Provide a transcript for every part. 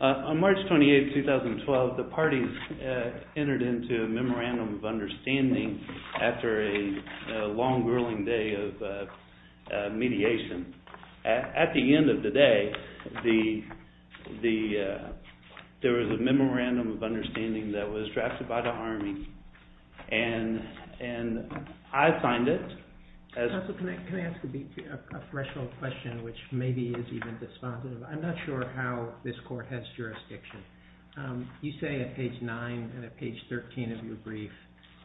On March 28, 2012, the parties entered into a Memorandum of Understanding after a long, grueling day of mediation. At the end of the day, there was a Memorandum of Understanding that was drafted by the Army, and I signed it. Can I ask a threshold question, which maybe is even despondent? I'm not sure how this Court has jurisdiction. You say at page 9 and at page 13 of your brief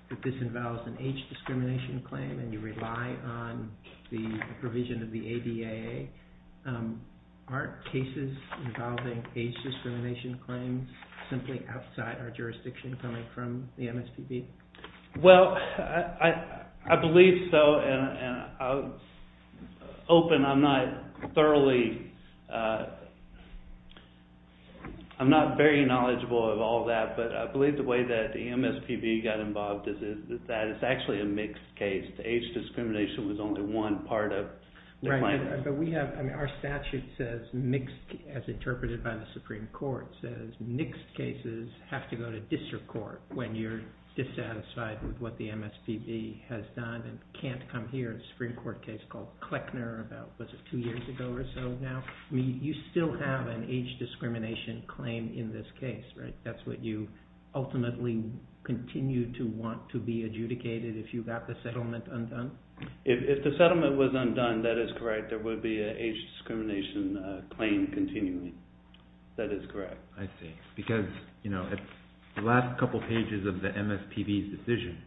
that this involves an age discrimination claim and you rely on the provision of the ADA. Aren't cases involving age discrimination claims simply outside our jurisdiction coming from the MSPB? Well, I believe so. I'm not very knowledgeable of all that, but I believe the way that the MSPB got involved is that it's actually a mixed case. The age discrimination was only one part of the claim. Our statute, as interpreted by the Supreme Court, says mixed cases have to go to district court when you're dissatisfied with what the MSPB has done and can't come here. There's a Supreme Court case called Kleckner about two years ago or so now. You still have an age discrimination claim in this case, right? That's what you ultimately continue to want to be adjudicated if you got the settlement undone? If the settlement was undone, that is correct. There would be an age discrimination claim continuing. That is correct. I see. Because the last couple pages of the MSPB's decision,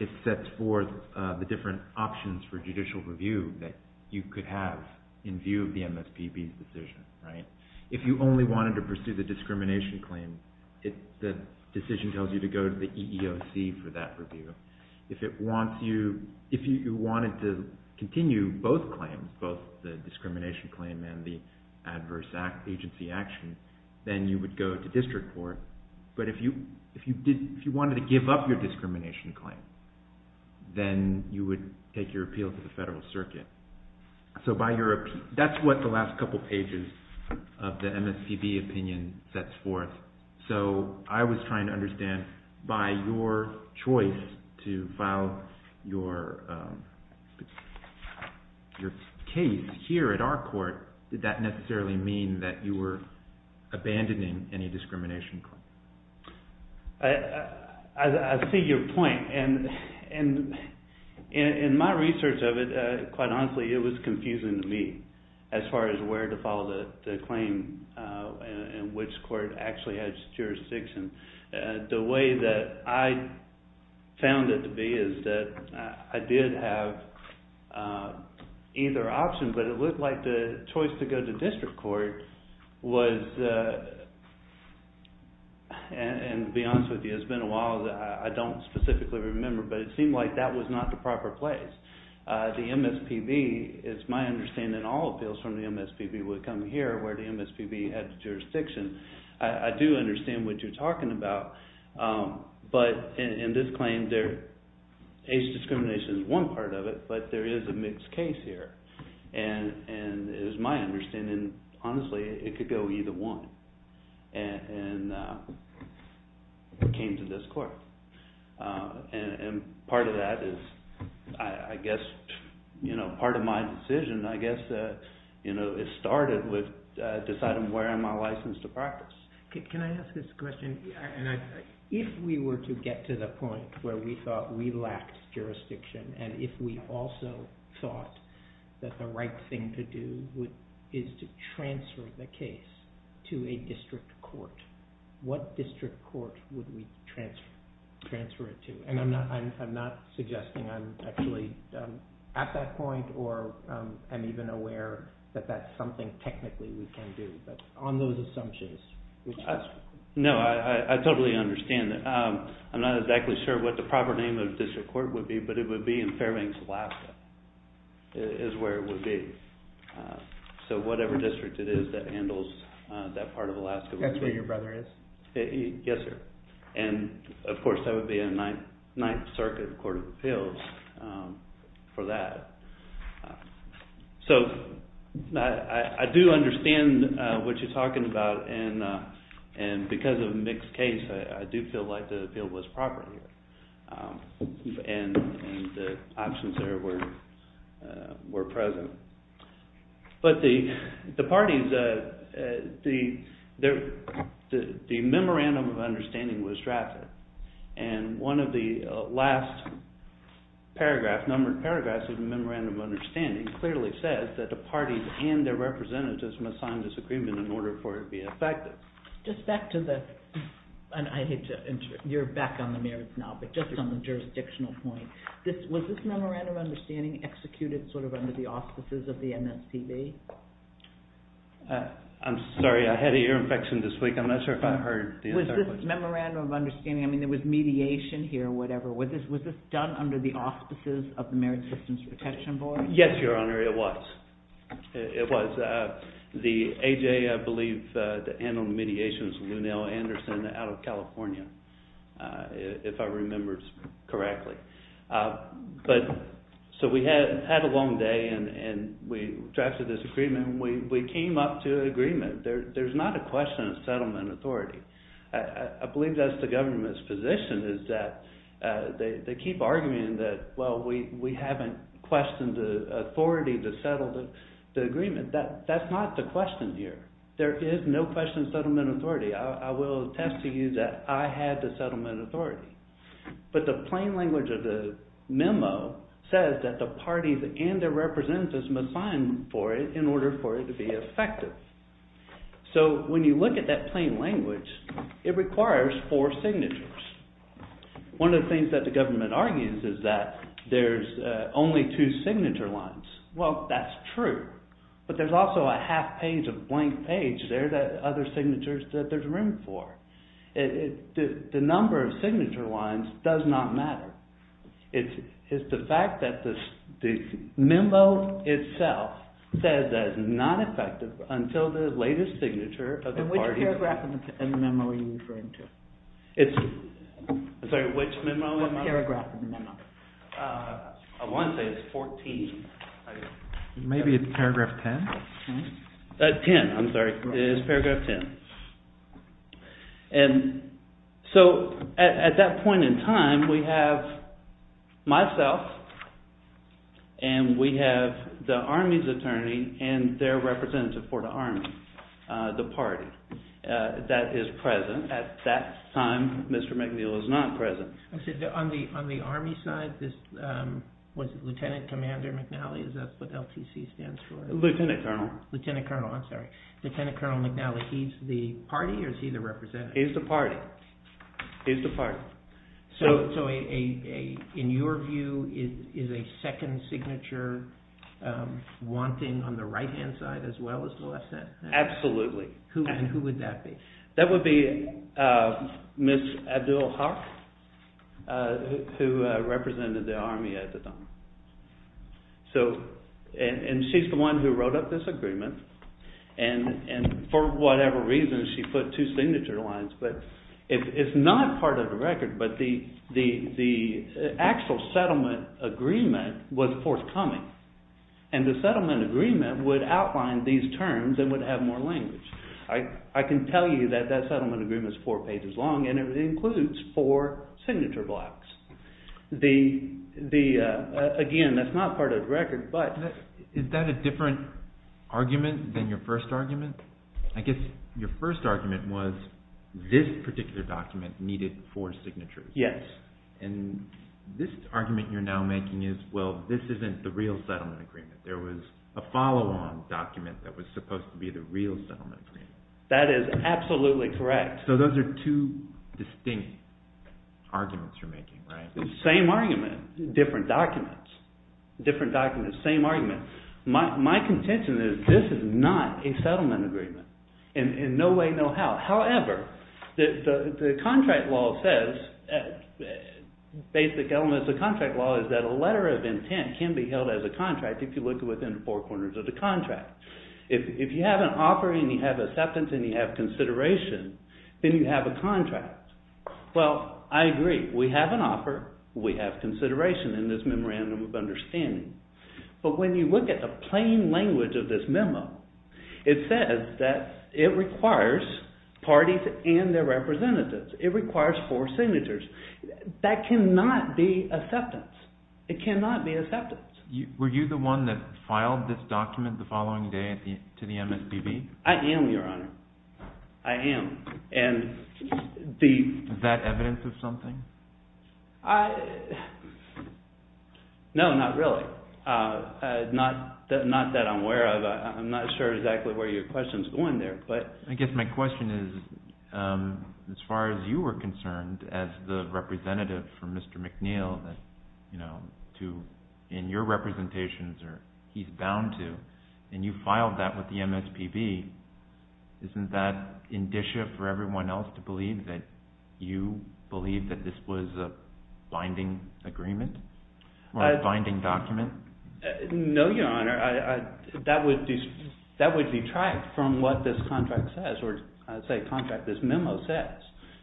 it sets forth the different options for judicial review that you could have in view of the MSPB's decision. If you only wanted to pursue the discrimination claim, the decision tells you to go to the EEOC for that review. If you wanted to continue both claims, both the discrimination claim and the adverse agency action, then you would go to district court. But if you wanted to give up your discrimination claim, then you would take your appeal to the Federal Circuit. So that's what the last couple pages of the MSPB opinion sets forth. So I was trying to understand, by your choice to file your case here at our court, did that necessarily mean that you were abandoning any discrimination claim? I see your point. In my research of it, quite honestly, it was confusing to me as far as where to file the claim and which court actually has jurisdiction. The way that I found it to be is that I did have either option, but it looked like the choice to go to district court was, and to be honest with you, it's been a while. I don't specifically remember, but it seemed like that was not the proper place. The MSPB, it's my understanding, all appeals from the MSPB would come here where the MSPB has jurisdiction. I do understand what you're talking about, but in this claim, age discrimination is one part of it, but there is a mixed case here. It was my understanding, honestly, it could go either one, and it came to this court. Part of that is, I guess, part of my decision, I guess, it started with deciding where am I licensed to practice. Can I ask this question? If we were to get to the point where we thought we lacked jurisdiction, and if we also thought that the right thing to do is to transfer the case to a district court, what district court would we transfer it to? I'm not suggesting I'm actually at that point, or I'm even aware that that's something technically we can do, but on those assumptions. No, I totally understand that. I'm not exactly sure what the proper name of district court would be, but it would be in Fairbanks, Alaska, is where it would be. Whatever district it is that handles that part of Alaska. That's where your brother is? Yes, sir. Of course, that would be a Ninth Circuit Court of Appeals for that. I do understand what you're talking about, and because of Mick's case, I do feel like the appeal was proper here, and the options there were present. But the parties, the memorandum of understanding was drafted, and one of the last paragraphs of the memorandum of understanding clearly says that the parties and their representatives must sign this agreement in order for it to be effective. Just back to the, and you're back on the merits now, but just on the jurisdictional point, was this memorandum of understanding executed sort of under the auspices of the MSPB? I'm sorry, I had an ear infection this week. I'm not sure if I heard the entire thing. Was this memorandum of understanding, I mean, there was mediation here, whatever. Was this done under the auspices of the Merit Systems Protection Board? Yes, Your Honor, it was. It was. The AJ, I believe, that handled the mediation was Lou Neal Anderson out of California, if I remember correctly. But, so we had a long day, and we drafted this agreement, and we came up to an agreement. There's not a question of settlement authority. I believe that's the government's position is that they keep arguing that, well, we haven't questioned the authority to settle the agreement. That's not the question here. There is no question of settlement authority. I will attest to you that I had the settlement authority. But the plain language of the memo says that the parties and their representatives must sign for it in order for it to be effective. So, when you look at that plain language, it requires four signatures. One of the things that the government argues is that there's only two signature lines. Well, that's true, but there's also a half page, a blank page there that other signatures that there's room for. The number of signature lines does not matter. It's the fact that the memo itself says that it's not effective until the latest signature of the party. And which paragraph in the memo are you referring to? Sorry, which memo? Which paragraph in the memo? I want to say it's 14. Maybe it's paragraph 10? 10, I'm sorry. It's paragraph 10. So, at that point in time, we have myself and we have the Army's attorney and their representative for the Army, the party. That is present. At that time, Mr. McNeil is not present. On the Army side, was it Lieutenant Commander McNally? Is that what LTC stands for? Lieutenant Colonel. Lieutenant Colonel, I'm sorry. Lieutenant Colonel McNally, he's the party or is he the representative? He's the party. He's the party. So, in your view, is a second signature wanting on the right hand side as well as the left side? Absolutely. And who would that be? That would be Ms. Abdul-Haq, who represented the Army at the time. And she's the one who wrote up this agreement. And for whatever reason, she put two signature lines. But it's not part of the record, but the actual settlement agreement was forthcoming. And the settlement agreement would outline these terms and would have more language. I can tell you that that settlement agreement is four pages long and it includes four signature blocks. Again, that's not part of the record. Is that a different argument than your first argument? I guess your first argument was this particular document needed four signatures. Yes. And this argument you're now making is, well, this isn't the real settlement agreement. There was a follow-on document that was supposed to be the real settlement agreement. That is absolutely correct. So those are two distinct arguments you're making, right? Same argument, different documents. Different documents, same argument. My contention is this is not a settlement agreement. In no way, no how. However, the contract law says, basic elements of contract law, is that a letter of intent can be held as a contract if you look within four corners of the contract. If you have an offer and you have acceptance and you have consideration, then you have a contract. Well, I agree. We have an offer. We have consideration in this memorandum of understanding. But when you look at the plain language of this memo, it says that it requires parties and their representatives. It requires four signatures. That cannot be acceptance. It cannot be acceptance. Were you the one that filed this document the following day to the MSPB? I am, Your Honor. I am. Is that evidence of something? No, not really. Not that I'm aware of. I'm not sure exactly where your question is going there. I guess my question is, as far as you were concerned as the representative for Mr. McNeil in your representations, or he's bound to, and you filed that with the MSPB, isn't that indicia for everyone else to believe that you believe that this was a binding agreement or a binding document? No, Your Honor. That would detract from what this contract says, or I would say contract this memo says.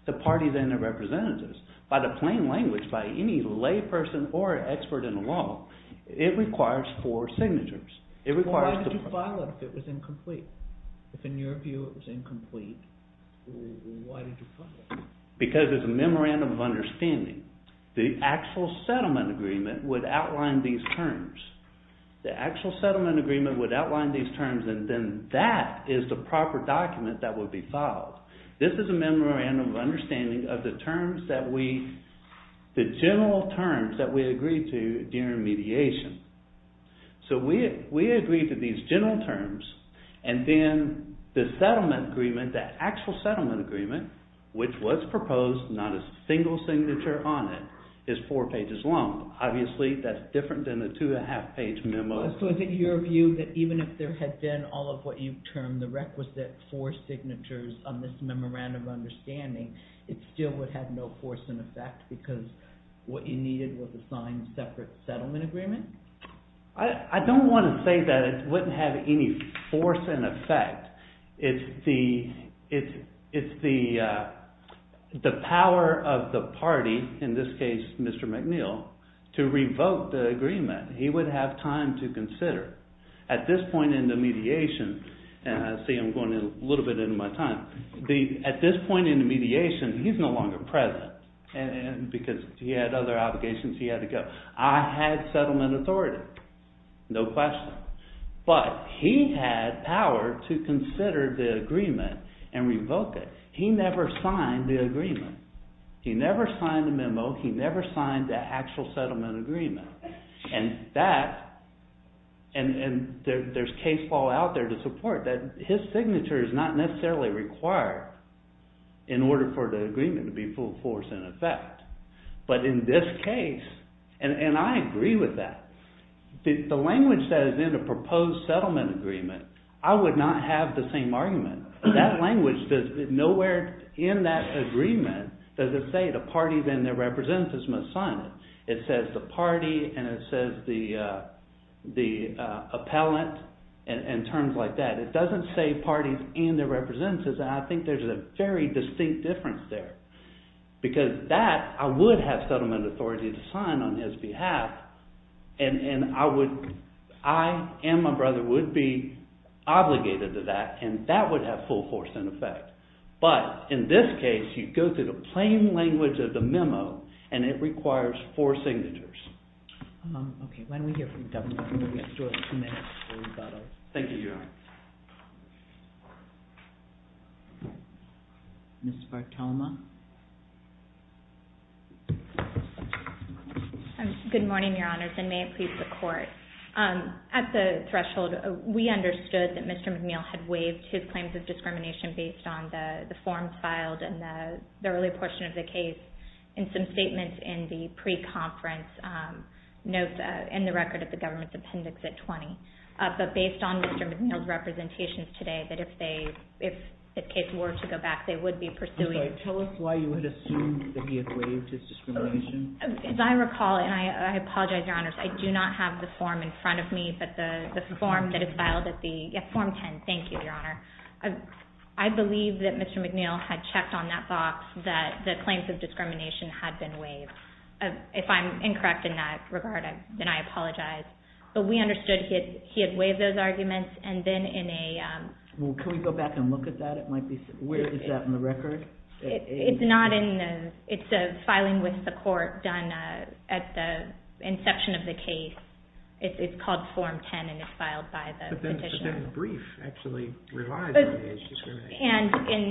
The parties and their representatives, by the plain language, by any lay person or expert in the law, it requires four signatures. Why did you file it if it was incomplete? If in your view it was incomplete, why did you file it? Because it's a memorandum of understanding. The actual settlement agreement would outline these terms. The actual settlement agreement would outline these terms, and then that is the proper document that would be filed. This is a memorandum of understanding of the terms that we, the general terms that we agreed to during mediation. So we agreed to these general terms, and then the settlement agreement, that actual settlement agreement, which was proposed, not a single signature on it, is four pages long. Obviously that's different than a two and a half page memo. So is it your view that even if there had been all of what you termed the requisite four signatures on this memorandum of understanding, it still would have no force and effect because what you needed was a signed separate settlement agreement? I don't want to say that it wouldn't have any force and effect. It's the power of the party, in this case Mr. McNeil, to revoke the agreement. He would have time to consider. At this point in the mediation, and I see I'm going a little bit into my time. At this point in the mediation, he's no longer present because he had other obligations he had to go. I had settlement authority, no question. But he had power to consider the agreement and revoke it. He never signed the agreement. He never signed the memo. He never signed the actual settlement agreement. And there's case law out there to support that his signature is not necessarily required in order for the agreement to be full force and effect. But in this case, and I agree with that, the language that is in the proposed settlement agreement, I would not have the same argument. That language, nowhere in that agreement does it say the parties and their representatives must sign it. It says the party, and it says the appellant, and terms like that. It doesn't say parties and their representatives, and I think there's a very distinct difference there. Because that, I would have settlement authority to sign on his behalf. And I would, I and my brother would be obligated to that, and that would have full force and effect. But in this case, you go through the plain language of the memo, and it requires four signatures. Okay, why don't we hear from you, Devin, and then we'll get to it in a few minutes. Thank you, Your Honor. Ms. Bartoma. Good morning, Your Honors, and may it please the Court. At the threshold, we understood that Mr. McNeil had waived his claims of discrimination based on the forms filed in the early portion of the case, and some statements in the pre-conference notes in the record of the government's appendix at 20. But based on Mr. McNeil's representations today, that if they, if the case were to go back, they would be pursuing I'm sorry, tell us why you would assume that he had waived his discrimination. As I recall, and I apologize, Your Honors, I do not have the form in front of me, but the form that is filed at the, yeah, Form 10, thank you, Your Honor. I believe that Mr. McNeil had checked on that box that the claims of discrimination had been waived. If I'm incorrect in that regard, then I apologize. But we understood he had waived those arguments, and then in a Well, can we go back and look at that? It might be, where is that in the record? It's not in the, it's a filing with the court done at the inception of the case. It's called Form 10, and it's filed by the petitioner. But then the brief actually relies on waived discrimination. And in,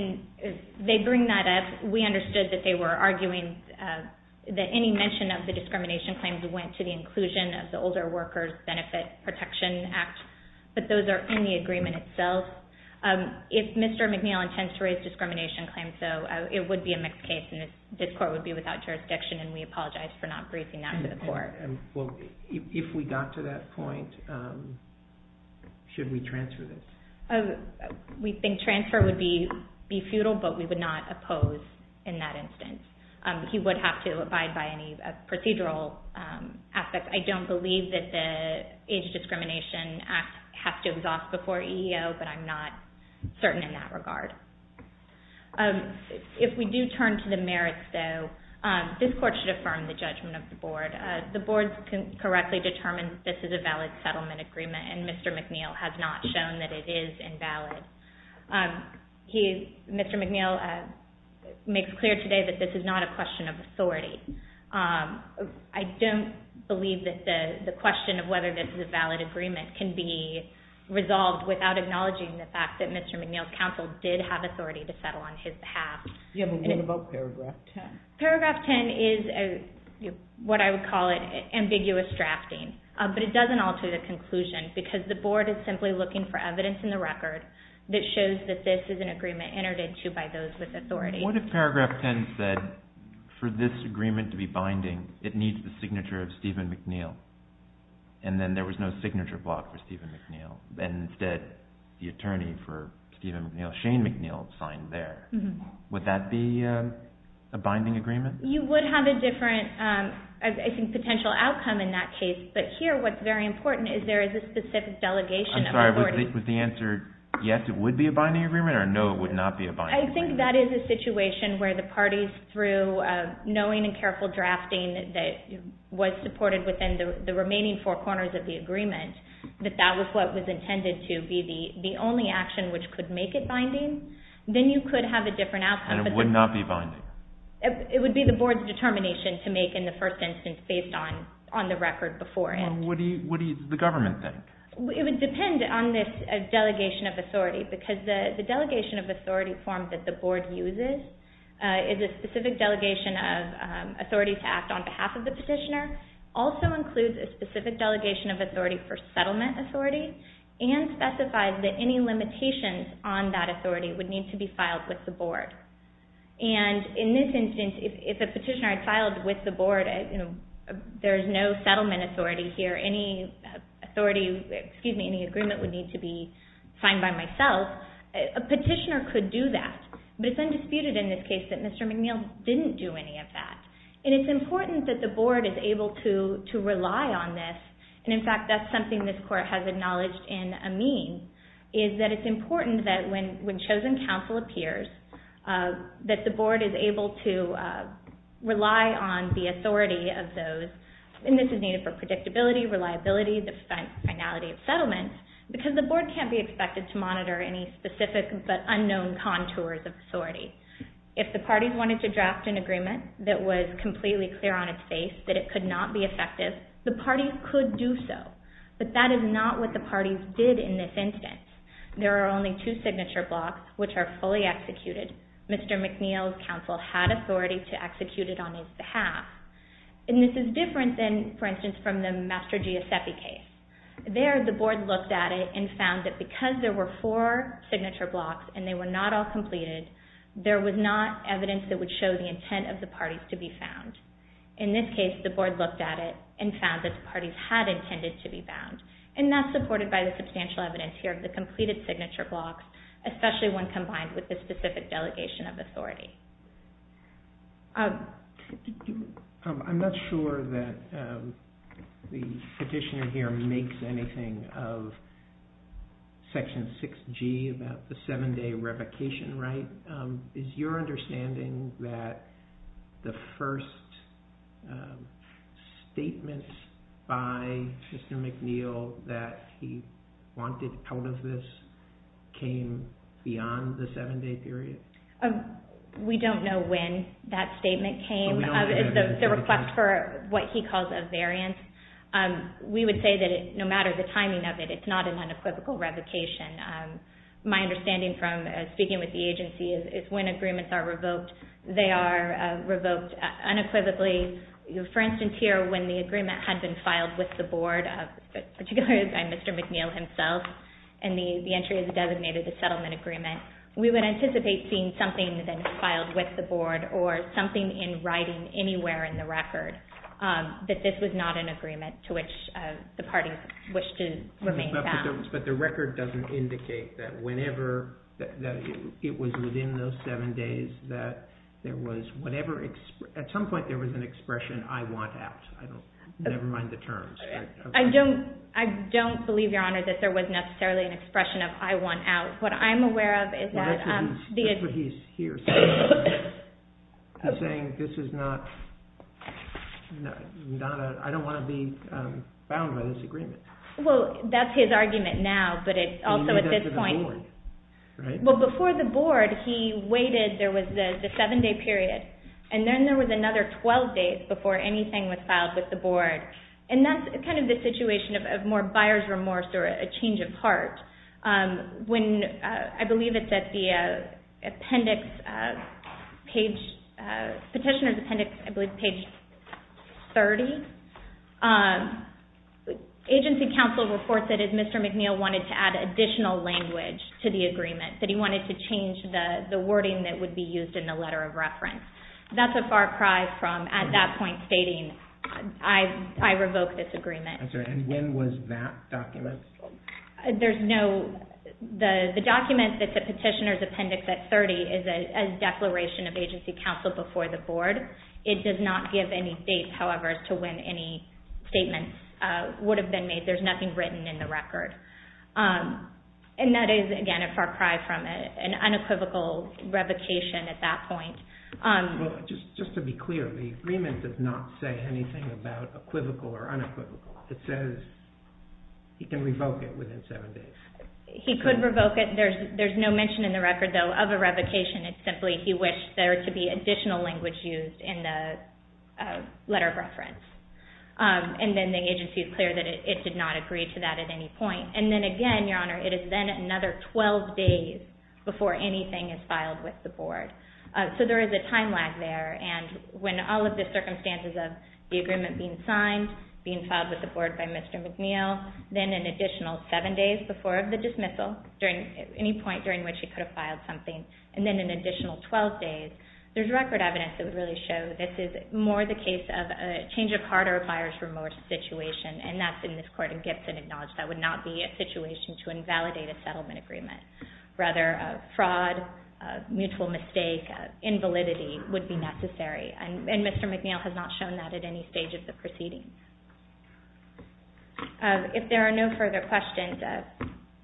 they bring that up, we understood that they were arguing that any mention of the discrimination claims went to the inclusion of the Older Workers Benefit Protection Act, but those are in the agreement itself. If Mr. McNeil intends to raise discrimination claims, though, it would be a mixed case, and this court would be without jurisdiction, and we apologize for not briefing that to the court. Well, if we got to that point, should we transfer this? We think transfer would be futile, but we would not oppose in that instance. He would have to abide by any procedural aspects. I don't believe that the Age Discrimination Act has to exhaust before EEO, but I'm not certain in that regard. If we do turn to the merits, though, this court should affirm the judgment of the board. The board correctly determines this is a valid settlement agreement, and Mr. McNeil has not shown that it is invalid. Mr. McNeil makes clear today that this is not a question of authority. I don't believe that the question of whether this is a valid agreement can be resolved without acknowledging the fact that Mr. McNeil's counsel did have authority to settle on his behalf. You haven't written about Paragraph 10. Paragraph 10 is what I would call ambiguous drafting, but it doesn't alter the conclusion because the board is simply looking for evidence in the record that shows that this is an agreement entered into by those with authority. What if Paragraph 10 said, for this agreement to be binding, it needs the signature of Stephen McNeil, and then there was no signature block for Stephen McNeil, and instead the attorney for Stephen McNeil, Shane McNeil, signed there? Would that be a binding agreement? You would have a different, I think, potential outcome in that case, but here what's very important is there is a specific delegation of authority. I'm sorry, was the answer yes, it would be a binding agreement, or no, it would not be a binding agreement? I think that is a situation where the parties, through knowing and careful drafting that was supported within the remaining four corners of the agreement, that that was what was intended to be the only action which could make it binding, then you could have a different outcome. And it would not be binding? It would be the board's determination to make in the first instance based on the record before it. What do the government think? It would depend on this delegation of authority, because the delegation of authority form that the board uses is a specific delegation of authority to act on behalf of the petitioner, also includes a specific delegation of authority for settlement authority, and specifies that any limitations on that authority would need to be filed with the board. And in this instance, if a petitioner had filed with the board, there is no settlement authority here, any agreement would need to be signed by myself, a petitioner could do that. But it's undisputed in this case that Mr. McNeil didn't do any of that. And it's important that the board is able to rely on this, and in fact that's something this Court has acknowledged in Amin, is that it's important that when chosen counsel appears, that the board is able to rely on the authority of those, and this is needed for predictability, reliability, the finality of settlement, because the board can't be expected to monitor any specific but unknown contours of authority. If the parties wanted to draft an agreement that was completely clear on its face, that it could not be effective, the parties could do so. But that is not what the parties did in this instance. There are only two signature blocks which are fully executed. Mr. McNeil's counsel had authority to execute it on his behalf. And this is different than, for instance, from the Master Giuseppe case. There, the board looked at it and found that because there were four signature blocks and they were not all completed, there was not evidence that would show the intent of the parties to be found. In this case, the board looked at it and found that the parties had intended to be found. And that's supported by the substantial evidence here of the completed signature blocks, especially when combined with the specific delegation of authority. I'm not sure that the petitioner here makes anything of Section 6G about the seven-day revocation right. Is your understanding that the first statement by Mr. McNeil that he wanted out of this came beyond the seven-day period? We don't know when that statement came. The request for what he calls a variance, we would say that no matter the timing of it, it's not an unequivocal revocation. My understanding from speaking with the agency is when agreements are revoked, they are revoked unequivocally. For instance here, when the agreement had been filed with the board, particularly by Mr. McNeil himself, and the entry is designated the settlement agreement, we would anticipate seeing something that had been filed with the board or something in writing anywhere in the record, that this was not an agreement to which the parties wished to remain found. But the record doesn't indicate that whenever it was within those seven days that there was whatever – at some point there was an expression, I want out, never mind the terms. I don't believe, Your Honor, that there was necessarily an expression of I want out. What I'm aware of is that – That's what he's saying here. He's saying this is not – I don't want to be found by this agreement. Well, that's his argument now, but it's also at this point – And he made that to the board, right? Well, before the board, he waited. There was the seven-day period, and then there was another 12 days before anything was filed with the board. And that's kind of the situation of more buyer's remorse or a change of heart. When, I believe it's at the appendix, petitioner's appendix, I believe page 30, agency counsel reports that Mr. McNeil wanted to add additional language to the agreement, that he wanted to change the wording that would be used in the letter of reference. That's a far cry from at that point stating I revoke this agreement. And when was that document? There's no – the document that's at petitioner's appendix at 30 is a declaration of agency counsel before the board. It does not give any dates, however, as to when any statements would have been made. There's nothing written in the record. And that is, again, a far cry from an unequivocal revocation at that point. Well, just to be clear, the agreement does not say anything about equivocal or unequivocal. It says he can revoke it within seven days. He could revoke it. There's no mention in the record, though, of a revocation. It's simply he wished there to be additional language used in the letter of reference. And then the agency is clear that it did not agree to that at any point. And then, again, Your Honor, it is then another 12 days before anything is filed with the board. So there is a time lag there. And when all of the circumstances of the agreement being signed, being filed with the board by Mr. McNeil, then an additional seven days before the dismissal, any point during which he could have filed something, and then an additional 12 days, there's record evidence that would really show this is more the case of a change of heart or a buyer's remorse situation, and that's in this court in Gibson acknowledged that would not be a situation to invalidate a settlement agreement. Rather, a fraud, mutual mistake, invalidity would be necessary. And Mr. McNeil has not shown that at any stage of the proceedings. If there are no further questions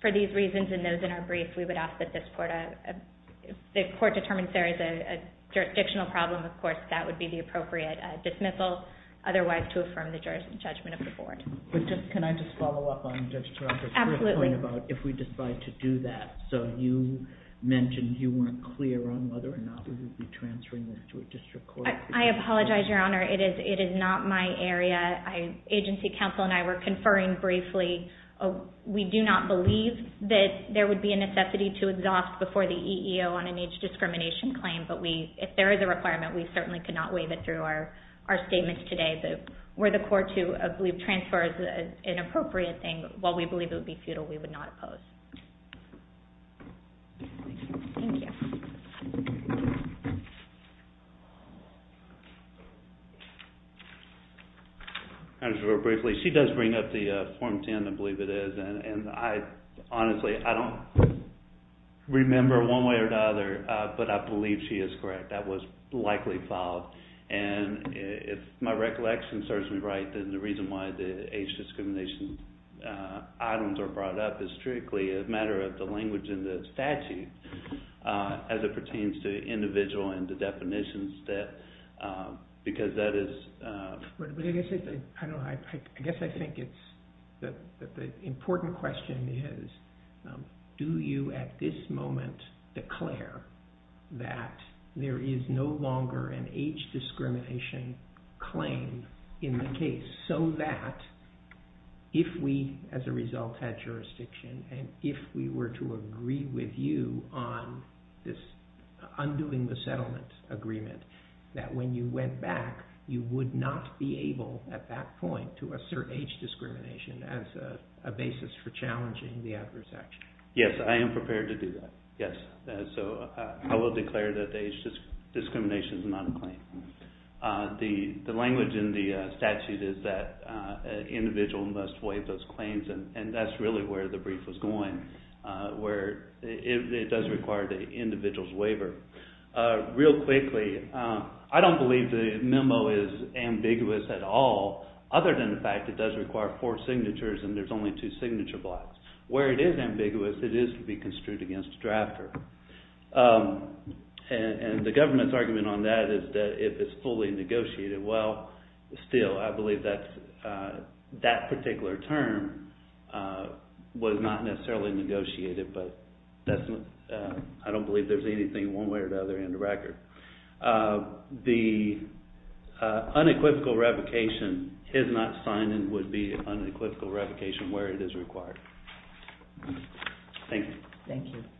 for these reasons and those in our brief, we would ask that this court determines there is a jurisdictional problem, of course, that would be the appropriate dismissal. Otherwise, to affirm the judgment of the board. Can I just follow up on Judge Taranto's point about if we decide to do that? So you mentioned you weren't clear on whether or not we would be transferring this to a district court. I apologize, Your Honor. It is not my area. Agency counsel and I were conferring briefly. We do not believe that there would be a necessity to exhaust before the EEO on an age discrimination claim, but if there is a requirement, we certainly could not waive it through our statements today. Were the court to transfer as an appropriate thing, while we believe it would be futile, we would not oppose. Thank you. Thank you. I'll just go briefly. She does bring up the Form 10, I believe it is, and I honestly, I don't remember one way or the other, but I believe she is correct. That was likely filed, and if my recollection serves me right, then the reason why the age discrimination items are brought up is strictly a matter of the language in the statute. As it pertains to the individual and the definitions, because that is... I guess I think the important question is, do you at this moment declare that there is no longer an age discrimination claim in the case, so that if we, as a result, had jurisdiction, and if we were to agree with you on undoing the settlement agreement, that when you went back, you would not be able, at that point, to assert age discrimination as a basis for challenging the adverse action? Yes, I am prepared to do that. Yes, so I will declare that the age discrimination is not a claim. The language in the statute is that an individual must waive those claims, and that is really where the brief was going, where it does require the individual's waiver. Real quickly, I don't believe the memo is ambiguous at all, other than the fact that it does require four signatures and there are only two signature blocks. Where it is ambiguous, it is to be construed against a drafter. And the government's argument on that is that if it is fully negotiated, well, still, I believe that particular term was not necessarily negotiated, but I don't believe there is anything one way or the other in the record. The unequivocal revocation, his not signing would be unequivocal revocation where it is required. Thank you.